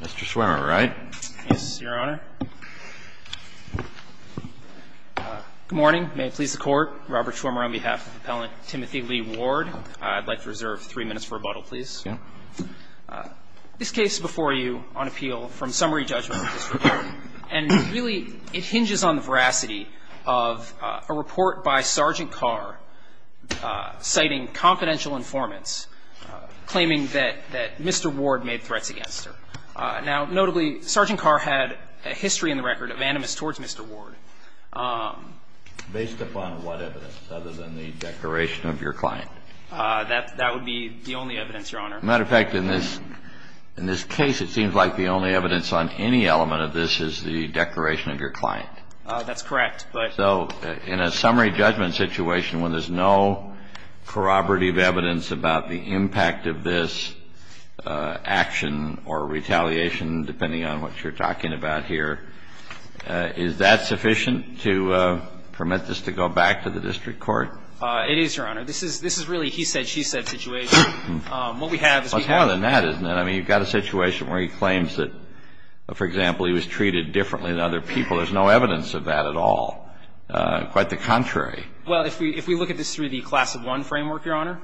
Mr. Schwimmer, right? Yes, Your Honor. Good morning. May it please the Court. Robert Schwimmer on behalf of Appellant Timothy Lee Ward. I'd like to reserve three minutes for rebuttal, please. Yeah. This case before you on appeal from summary judgment of this report, and really it hinges on the veracity of a report by Sergeant Carr citing confidential informants claiming that Mr. Ward made threats against her. Now, notably, Sergeant Carr had a history in the record of animus towards Mr. Ward. Based upon what evidence other than the declaration of your client? That would be the only evidence, Your Honor. As a matter of fact, in this case it seems like the only evidence on any element of this is the declaration of your client. That's correct. So in a summary judgment situation when there's no corroborative evidence about the impact of this action or retaliation, depending on what you're talking about here, is that sufficient to permit this to go back to the district court? It is, Your Honor. This is really a he said, she said situation. What we have is we have a case. Well, it's more than that, isn't it? I mean, you've got a situation where he claims that, for example, he was treated differently than other people. There's no evidence of that at all. Quite the contrary. Well, if we look at this through the class of one framework, Your Honor,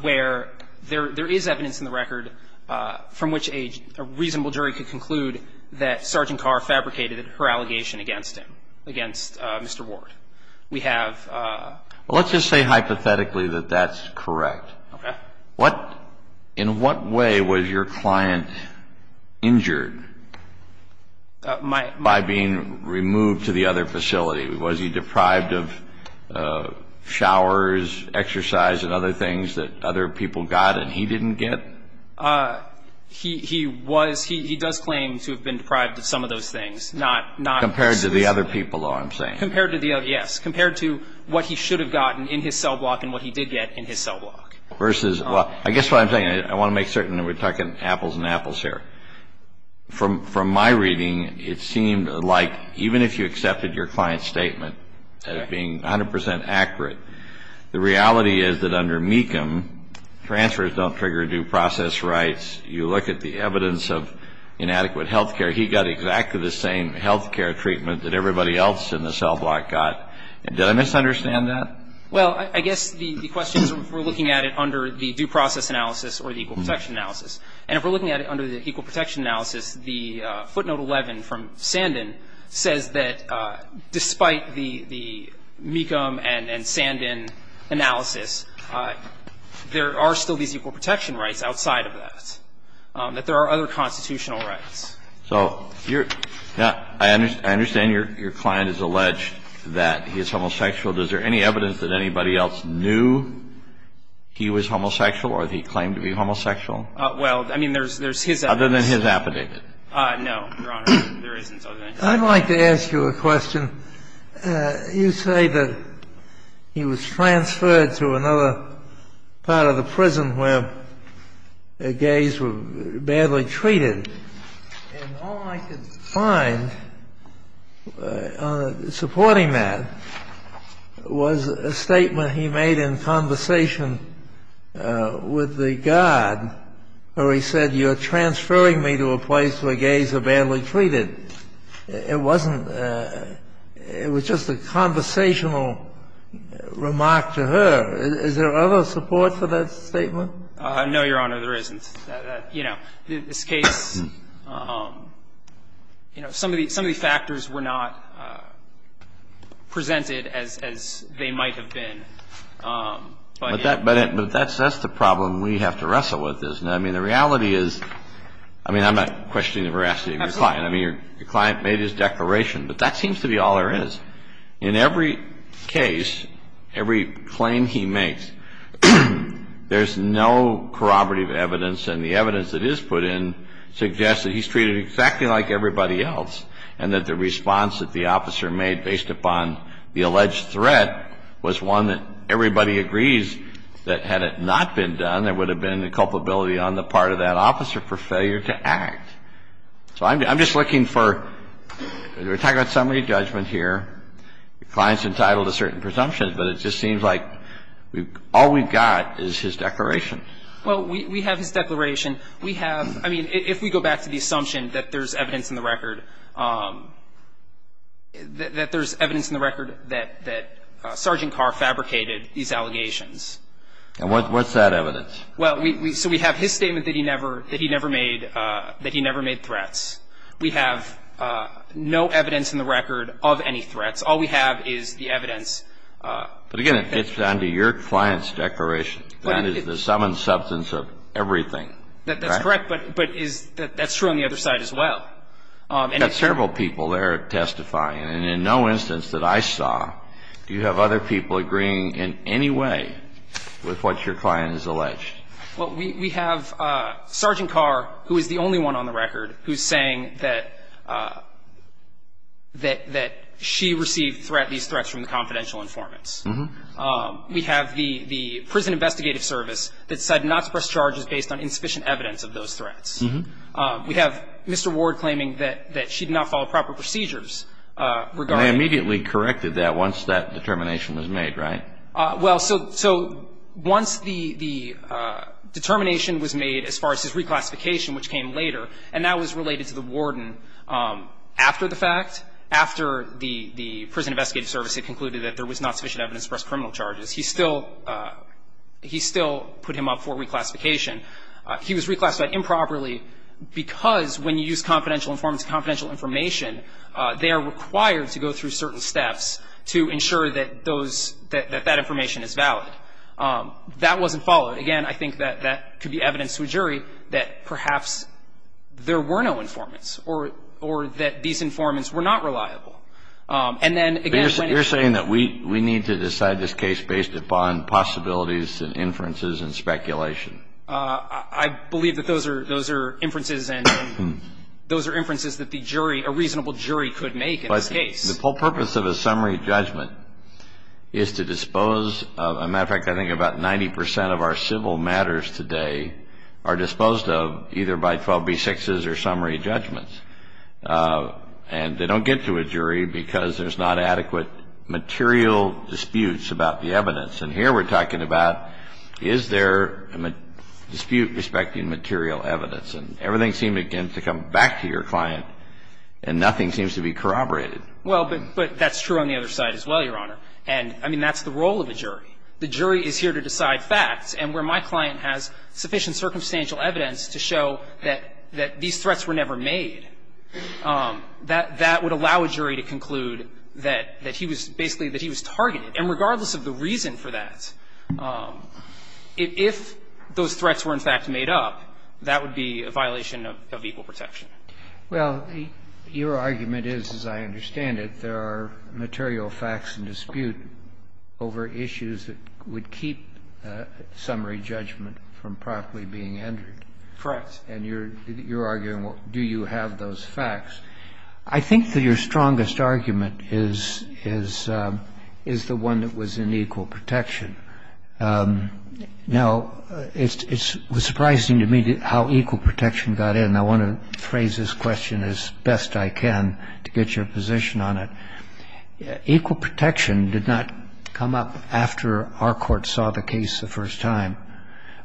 where there is evidence in the record from which a reasonable jury could conclude that Sergeant Carr fabricated her allegation against him, against Mr. Ward, we have Well, let's just say hypothetically that that's correct. Okay. In what way was your client injured? My By being removed to the other facility. Was he deprived of showers, exercise and other things that other people got and he didn't get? He was. He does claim to have been deprived of some of those things, not Compared to the other people, though, I'm saying. Compared to the other, yes. Compared to what he should have gotten in his cell block and what he did get in his cell block. Apples and apples here. From my reading, it seemed like even if you accepted your client's statement as being 100% accurate, the reality is that under Mecham, transfers don't trigger due process rights. You look at the evidence of inadequate health care, he got exactly the same health care treatment that everybody else in the cell block got. Did I misunderstand that? Well, I guess the question is if we're looking at it under the due process analysis or the equal protection analysis, and if we're looking at it under the equal protection analysis, the footnote 11 from Sandin says that despite the Mecham and Sandin analysis, there are still these equal protection rights outside of that, that there are other constitutional rights. So I understand your client is alleged that he is homosexual. Does there any evidence that anybody else knew he was homosexual or that he claimed to be homosexual? Well, I mean, there's his evidence. Other than his affidavit. No, Your Honor. There isn't other evidence. I'd like to ask you a question. You say that he was transferred to another part of the prison where gays were badly treated. And all I could find supporting that was a statement he made in conversation with the guard where he said, you're transferring me to a place where gays are badly treated. It wasn't — it was just a conversational remark to her. Is there other support for that statement? No, Your Honor. There isn't. You know, this case, you know, some of the factors were not presented as they might have been. But that's the problem we have to wrestle with, isn't it? I mean, the reality is — I mean, I'm not questioning the veracity of your client. I mean, your client made his declaration. But that seems to be all there is. In every case, every claim he makes, there's no corroborative evidence. And the evidence that is put in suggests that he's treated exactly like everybody else and that the response that the officer made based upon the alleged threat was one that everybody agrees that had it not been done, there would have been a culpability on the part of that officer for failure to act. So I'm just looking for — we're talking about summary judgment here. Your client's entitled to certain presumptions, but it just seems like all we've got is his declaration. Well, we have his declaration. We have — I mean, if we go back to the assumption that there's evidence in the record — that there's evidence in the record that Sergeant Carr fabricated these allegations. And what's that evidence? Well, so we have his statement that he never made threats. We have no evidence in the record of any threats. All we have is the evidence. But again, it's under your client's declaration. That is the sum and substance of everything. That's correct. But that's true on the other side as well. You've got several people there testifying. And in no instance that I saw do you have other people agreeing in any way with what your client has alleged. Well, we have Sergeant Carr, who is the only one on the record who's saying that she received these threats from the confidential informants. We have the prison investigative service that said not to press charges based on insufficient evidence of those threats. We have Mr. Ward claiming that she did not follow proper procedures regarding And they immediately corrected that once that determination was made, right? Well, so once the determination was made as far as his reclassification, which came later, and that was related to the warden, after the fact, after the prison investigative service had concluded that there was not sufficient evidence to press criminal charges, he still put him up for reclassification. He was reclassified improperly because when you use confidential informants confidential information, they are required to go through certain steps to ensure that those, that that information is valid. That wasn't followed. Again, I think that that could be evidence to a jury that perhaps there were no informants or that these informants were not reliable. And then, again, when it's You're saying that we need to decide this case based upon possibilities and inferences and speculation. I believe that those are, those are inferences and those are inferences that the jury, a reasonable jury could make in this case. But the whole purpose of a summary judgment is to dispose of, as a matter of fact, I think about 90 percent of our civil matters today are disposed of either by 12b6s or summary judgments. And they don't get to a jury because there's not adequate material disputes about the evidence. And here we're talking about, is there a dispute respecting material evidence? And everything seems, again, to come back to your client and nothing seems to be corroborated. Well, but that's true on the other side as well, Your Honor. And, I mean, that's the role of a jury. The jury is here to decide facts. And where my client has sufficient circumstantial evidence to show that these threats were never made, that would allow a jury to conclude that he was basically, that he was targeted. And regardless of the reason for that, if those threats were in fact made up, that would be a violation of equal protection. Well, your argument is, as I understand it, there are material facts in dispute over issues that would keep summary judgment from properly being entered. Correct. And you're arguing, do you have those facts? I think that your strongest argument is the one that was in equal protection. Now, it was surprising to me how equal protection got in. I want to phrase this question as best I can to get your position on it. Equal protection did not come up after our court saw the case the first time.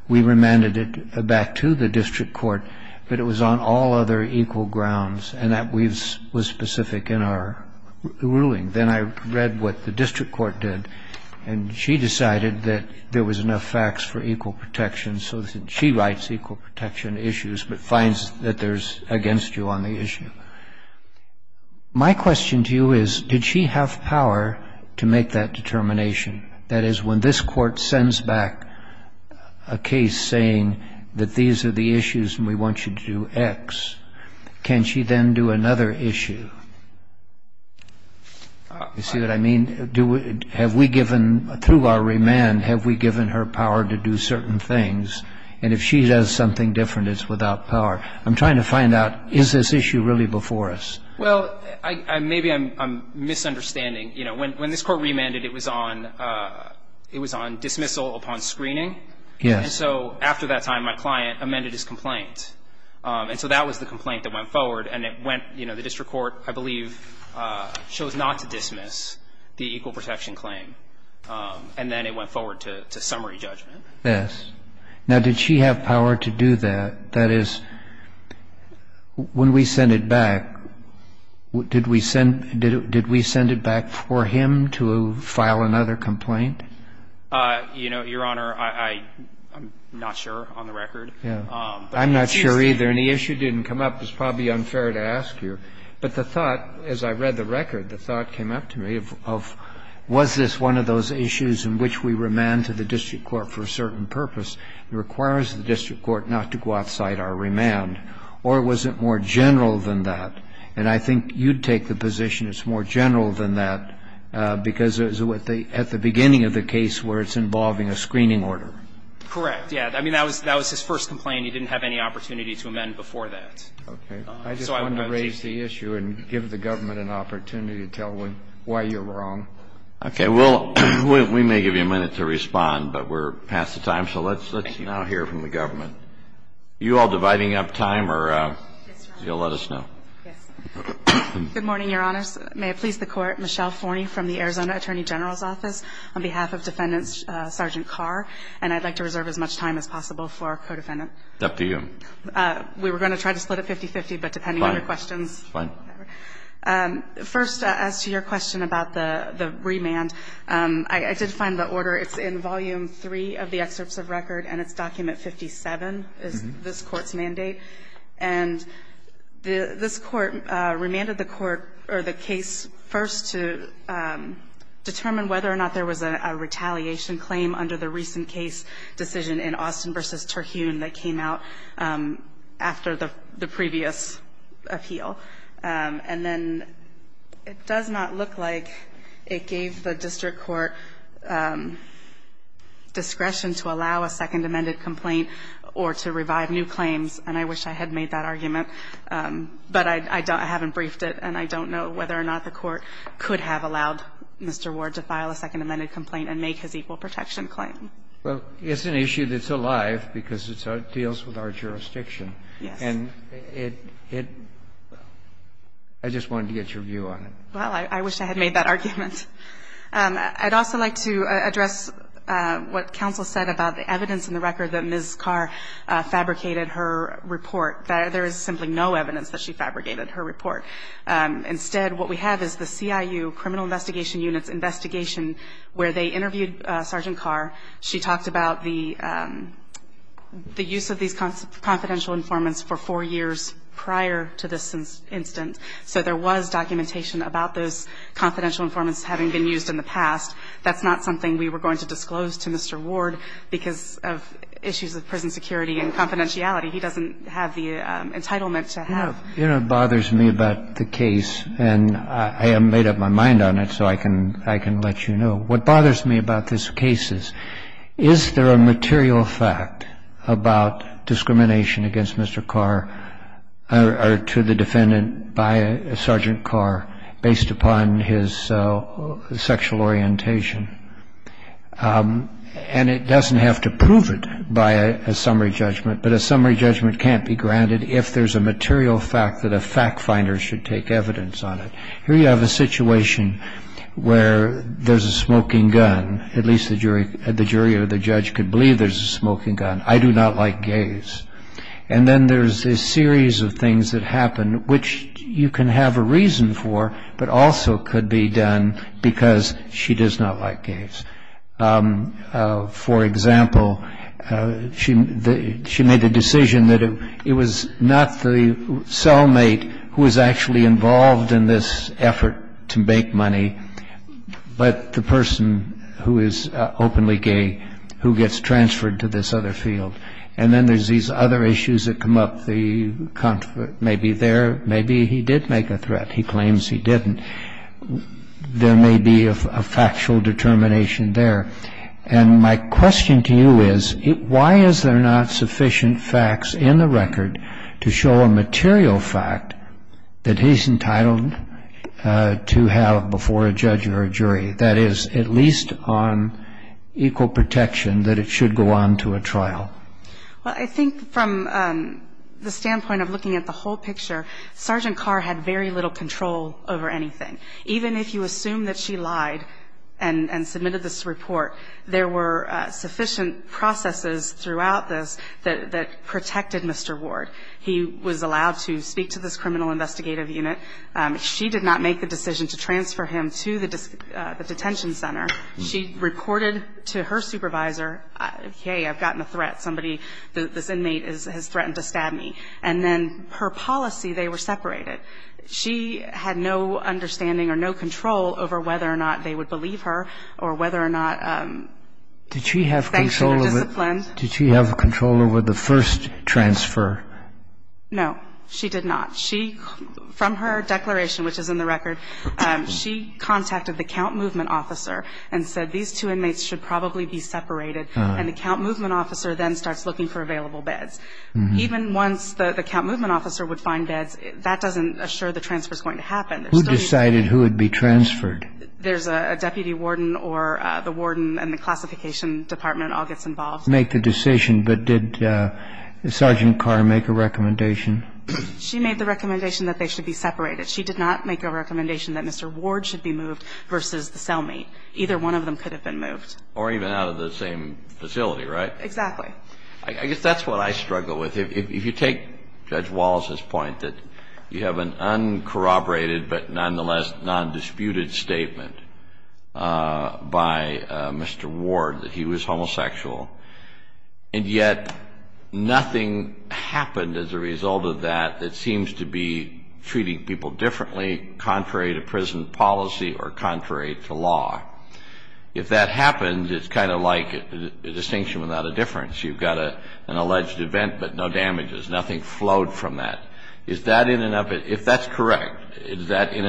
We remanded it back to the district court. But it was on all other equal grounds. And that was specific in our ruling. Then I read what the district court did. And she decided that there was enough facts for equal protection. So she writes equal protection issues but finds that there's against you on the issue. My question to you is, did she have power to make that determination? That is, when this court sends back a case saying that these are the issues and we want you to do X, can she then do another issue? You see what I mean? Have we given, through our remand, have we given her power to do certain things? And if she does something different, it's without power. I'm trying to find out, is this issue really before us? Well, maybe I'm misunderstanding. You know, when this court remanded, it was on dismissal upon screening. Yes. And so after that time, my client amended his complaint. And so that was the complaint that went forward. And it went, you know, the district court, I believe, chose not to dismiss the equal protection claim. And then it went forward to summary judgment. Yes. Now, did she have power to do that? That is, when we send it back, did we send it back for him to file another complaint? You know, Your Honor, I'm not sure on the record. Yeah. I'm not sure either. And the issue didn't come up. It's probably unfair to ask you. But the thought, as I read the record, the thought came up to me of was this one of those issues in which we remand to the district court for a certain purpose? It requires the district court not to go outside our remand. Or was it more general than that? And I think you'd take the position it's more general than that, because at the beginning of the case where it's involving a screening order. Correct. Yeah. I mean, that was his first complaint. He didn't have any opportunity to amend before that. Okay. I just wanted to raise the issue and give the government an opportunity to tell why you're wrong. Okay. Well, we may give you a minute to respond, but we're past the time. So let's now hear from the government. Are you all dividing up time, or you'll let us know? Yes. Good morning, Your Honors. May it please the Court. Michelle Forney from the Arizona Attorney General's Office on behalf of Defendant Sergeant Carr. And I'd like to reserve as much time as possible for our co-defendant. It's up to you. We were going to try to split it 50-50, but depending on your questions. Fine. First, as to your question about the remand, I did find the order. It's in Volume 3 of the Excerpts of Record, and it's Document 57, is this Court's mandate. And this Court remanded the case first to determine whether or not there was a retaliation claim under the recent case decision in Austin v. Terhune that came out after the previous appeal. And then it does not look like it gave the district court discretion to allow a second amended complaint or to revive new claims. And I wish I had made that argument, but I haven't briefed it, and I don't know whether or not the Court could have allowed Mr. Ward to file a second amended complaint and make his equal protection claim. Well, it's an issue that's alive because it deals with our jurisdiction. Yes. And I just wanted to get your view on it. Well, I wish I had made that argument. I'd also like to address what counsel said about the evidence in the record that there is simply no evidence that she fabricated her report. Instead, what we have is the CIU Criminal Investigation Unit's investigation where they interviewed Sergeant Carr. She talked about the use of these confidential informants for four years prior to this incident. So there was documentation about those confidential informants having been used in the past. That's not something we were going to disclose to Mr. Ward because of issues of prison security and confidentiality. He doesn't have the entitlement to have. No. You know what bothers me about the case, and I have made up my mind on it so I can let you know. What bothers me about this case is, is there a material fact about discrimination against Mr. Carr or to the defendant by Sergeant Carr based upon his sexual orientation? And it doesn't have to prove it by a summary judgment, but a summary judgment can't be granted if there's a material fact that a fact finder should take evidence on it. Here you have a situation where there's a smoking gun. At least the jury or the judge could believe there's a smoking gun. I do not like gays. And then there's a series of things that happen which you can have a reason for but also could be done because she does not like gays. For example, she made the decision that it was not the cellmate who was actually involved in this effort to make money, but the person who is openly gay who gets transferred to this other field. And then there's these other issues that come up. Maybe there, maybe he did make a threat. He claims he didn't. There may be a factual determination there. And my question to you is, why is there not sufficient facts in the record to show a material fact that he's entitled to have before a judge or a jury, that is at least on equal protection that it should go on to a trial? Well, I think from the standpoint of looking at the whole picture, Sergeant Carr had very little control over anything. Even if you assume that she lied and submitted this report, there were sufficient processes throughout this that protected Mr. Ward. He was allowed to speak to this criminal investigative unit. She did not make the decision to transfer him to the detention center. She reported to her supervisor, hey, I've gotten a threat. Somebody, this inmate has threatened to stab me. And then her policy, they were separated. She had no understanding or no control over whether or not they would believe her or whether or not thanks to her discipline. Did she have control over the first transfer? No, she did not. From her declaration, which is in the record, she contacted the count movement officer and said these two inmates should probably be separated. And the count movement officer then starts looking for available beds. Even once the count movement officer would find beds, that doesn't assure the transfer's going to happen. Who decided who would be transferred? There's a deputy warden or the warden and the classification department all gets involved. Make the decision. But did Sergeant Carr make a recommendation? She made the recommendation that they should be separated. She did not make a recommendation that Mr. Ward should be moved versus the cellmate. Either one of them could have been moved. Or even out of the same facility, right? Exactly. I guess that's what I struggle with. If you take Judge Wallace's point that you have an uncorroborated but nonetheless non-disputed statement by Mr. Ward that he was homosexual and yet nothing happened as a result of that that seems to be treating people differently, contrary to prison policy or contrary to law. If that happened, it's kind of like a distinction without a difference. You've got an alleged event but no damages. Nothing flowed from that. Is that in and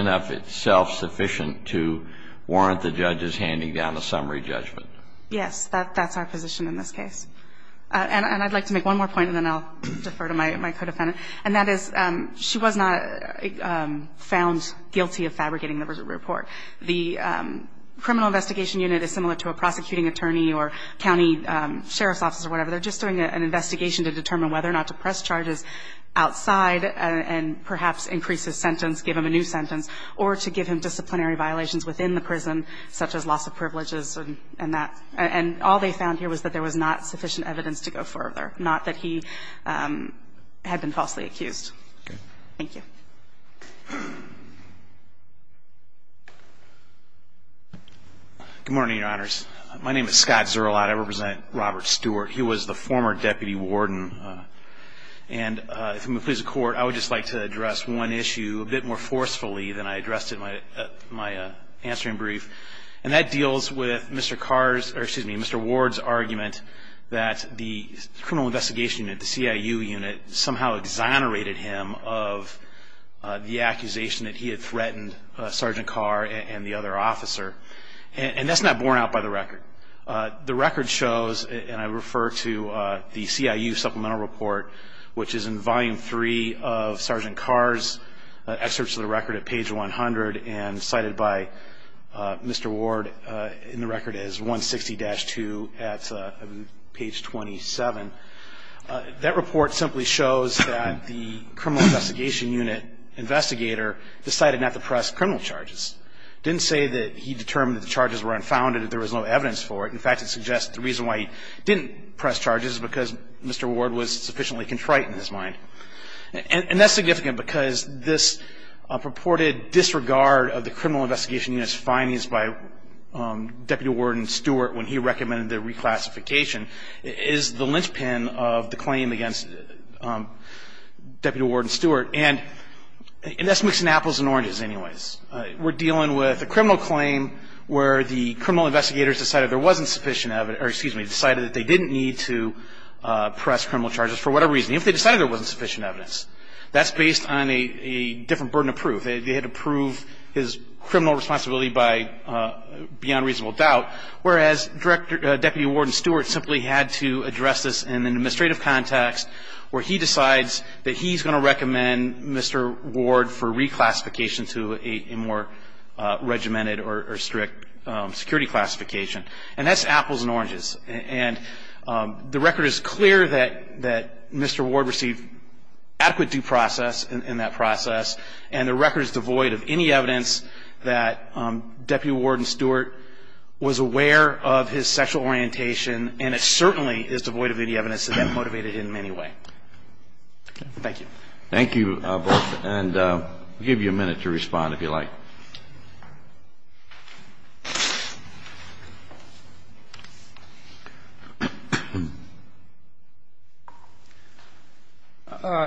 of itself sufficient to warrant the judges handing down a summary judgment? Yes. That's our position in this case. And I'd like to make one more point and then I'll defer to my co-defendant. And that is she was not found guilty of fabricating the report. The criminal investigation unit is similar to a prosecuting attorney or county sheriff's office or whatever. They're just doing an investigation to determine whether or not to press charges outside and perhaps increase his sentence, give him a new sentence, or to give him disciplinary violations within the prison such as loss of privileges and that. And all they found here was that there was not sufficient evidence to go further, not that he had been falsely accused. Okay. Thank you. Good morning, Your Honors. My name is Scott Zerlot. I represent Robert Stewart. He was the former deputy warden. And if it pleases the Court, I would just like to address one issue a bit more forcefully than I addressed it in my answering brief. And that deals with Mr. Ward's argument that the criminal investigation unit, the CIU unit, somehow exonerated him of the accusation that he had threatened Sergeant Carr and the other officer. And that's not borne out by the record. The record shows, and I refer to the CIU supplemental report, which is in volume three of Sergeant Carr's excerpts of the record at page 100 and cited by Mr. Ward in the record as 160-2 at page 27. That report simply shows that the criminal investigation unit investigator decided not to press criminal charges. It didn't say that he determined that the charges were unfounded, that there was no evidence for it. In fact, it suggests the reason why he didn't press charges is because Mr. Ward was sufficiently contrite in his mind. And that's significant because this purported disregard of the criminal investigation unit's findings by Deputy Warden Stewart when he recommended the reclassification is the linchpin of the claim against Deputy Warden Stewart. And that's mixing apples and oranges anyways. We're dealing with a criminal claim where the criminal investigators decided there wasn't sufficient evidence or, excuse me, decided that they didn't need to press criminal charges for whatever reason. Even if they decided there wasn't sufficient evidence, that's based on a different burden of proof. They had to prove his criminal responsibility beyond reasonable doubt, whereas Deputy Warden Stewart simply had to address this in an administrative context where he decides that he's going to recommend Mr. Ward for reclassification to a more regimented or strict security classification. And that's apples and oranges. And the record is clear that Mr. Ward received adequate due process in that process, and the record is devoid of any evidence that Deputy Warden Stewart was aware of his sexual orientation, and it certainly is devoid of any evidence that motivated him in any way. Thank you. Thank you, both. And I'll give you a minute to respond, if you like.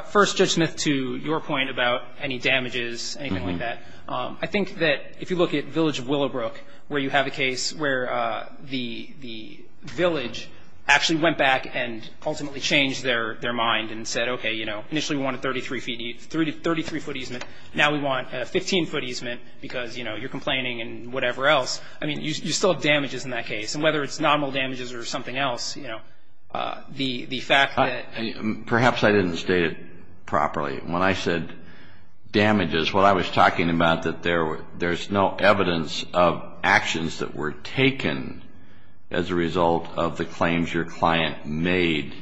First, Judge Smith, to your point about any damages, anything like that. I think that if you look at Village of Willowbrook, where you have a case where the village actually went back and ultimately changed their mind and said, okay, you know, initially we wanted a 33-foot easement. Now we want a 15-foot easement because, you know, you're complaining and whatever else. I mean, you still have damages in that case. And whether it's nominal damages or something else, you know, the fact that ---- Perhaps I didn't state it properly. When I said damages, what I was talking about, that there's no evidence of actions that were taken as a result of the claims your client made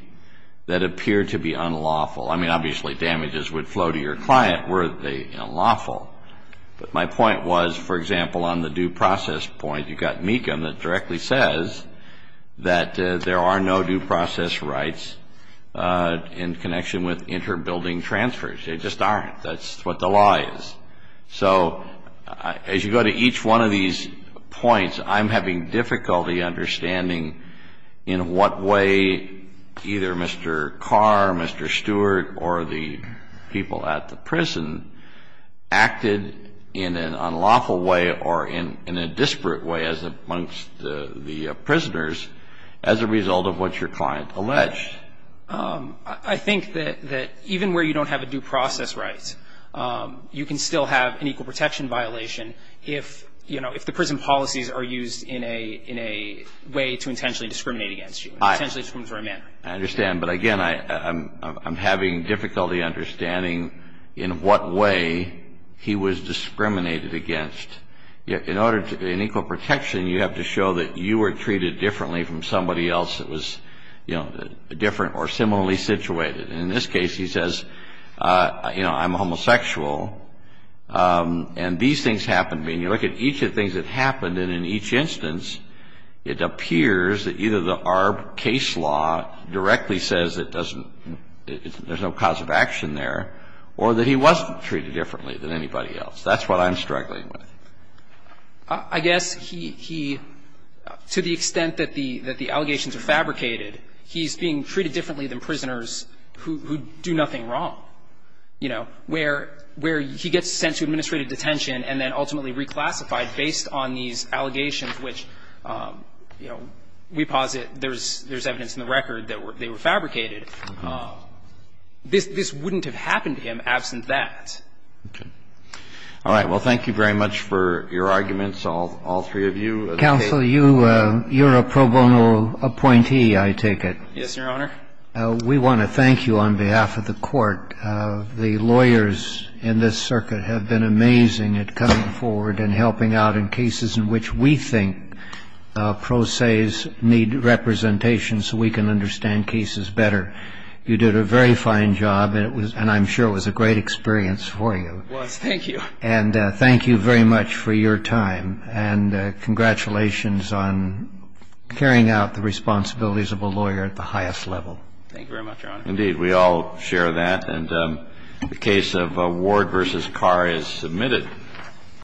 that appear to be unlawful. I mean, obviously, damages would flow to your client were they unlawful. But my point was, for example, on the due process point, you've got Mecham that directly says that there are no due process rights in connection with inter-building transfers. They just aren't. That's what the law is. So as you go to each one of these points, I'm having difficulty understanding in what way either Mr. Carr, Mr. Stewart, or the people at the prison acted in an unlawful way or in a disparate way as amongst the prisoners as a result of what your client alleged. I think that even where you don't have a due process right, you can still have an equal protection violation if, you know, if the prison policies are used in a way to intentionally discriminate against you, potentially in a discriminatory manner. I understand. But again, I'm having difficulty understanding in what way he was discriminated against. In order to be in equal protection, you have to show that you were treated differently from somebody else that was, you know, different or similarly situated. And in this case, he says, you know, I'm a homosexual, and these things happened to me. And you look at each of the things that happened, and in each instance, it appears that either our case law directly says it doesn't – there's no cause of action there, or that he wasn't treated differently than anybody else. That's what I'm struggling with. I guess he – to the extent that the allegations are fabricated, he's being treated differently than prisoners who do nothing wrong, you know, where he gets sent to administrative detention and then ultimately reclassified based on these allegations, which, you know, we posit there's evidence in the record that they were fabricated. This wouldn't have happened to him absent that. Okay. All right. Well, thank you very much for your arguments, all three of you. Counsel, you're a pro bono appointee, I take it. Yes, Your Honor. We want to thank you on behalf of the Court. The lawyers in this Circuit have been amazing at coming forward and helping out in cases in which we think pro ses need representation so we can understand cases better. You did a very fine job, and I'm sure it was a great experience for you. It was. Thank you. And thank you very much for your time. And congratulations on carrying out the responsibilities of a lawyer at the highest level. Thank you very much, Your Honor. Indeed. We all share that. And the case of Ward v. Carr is submitted.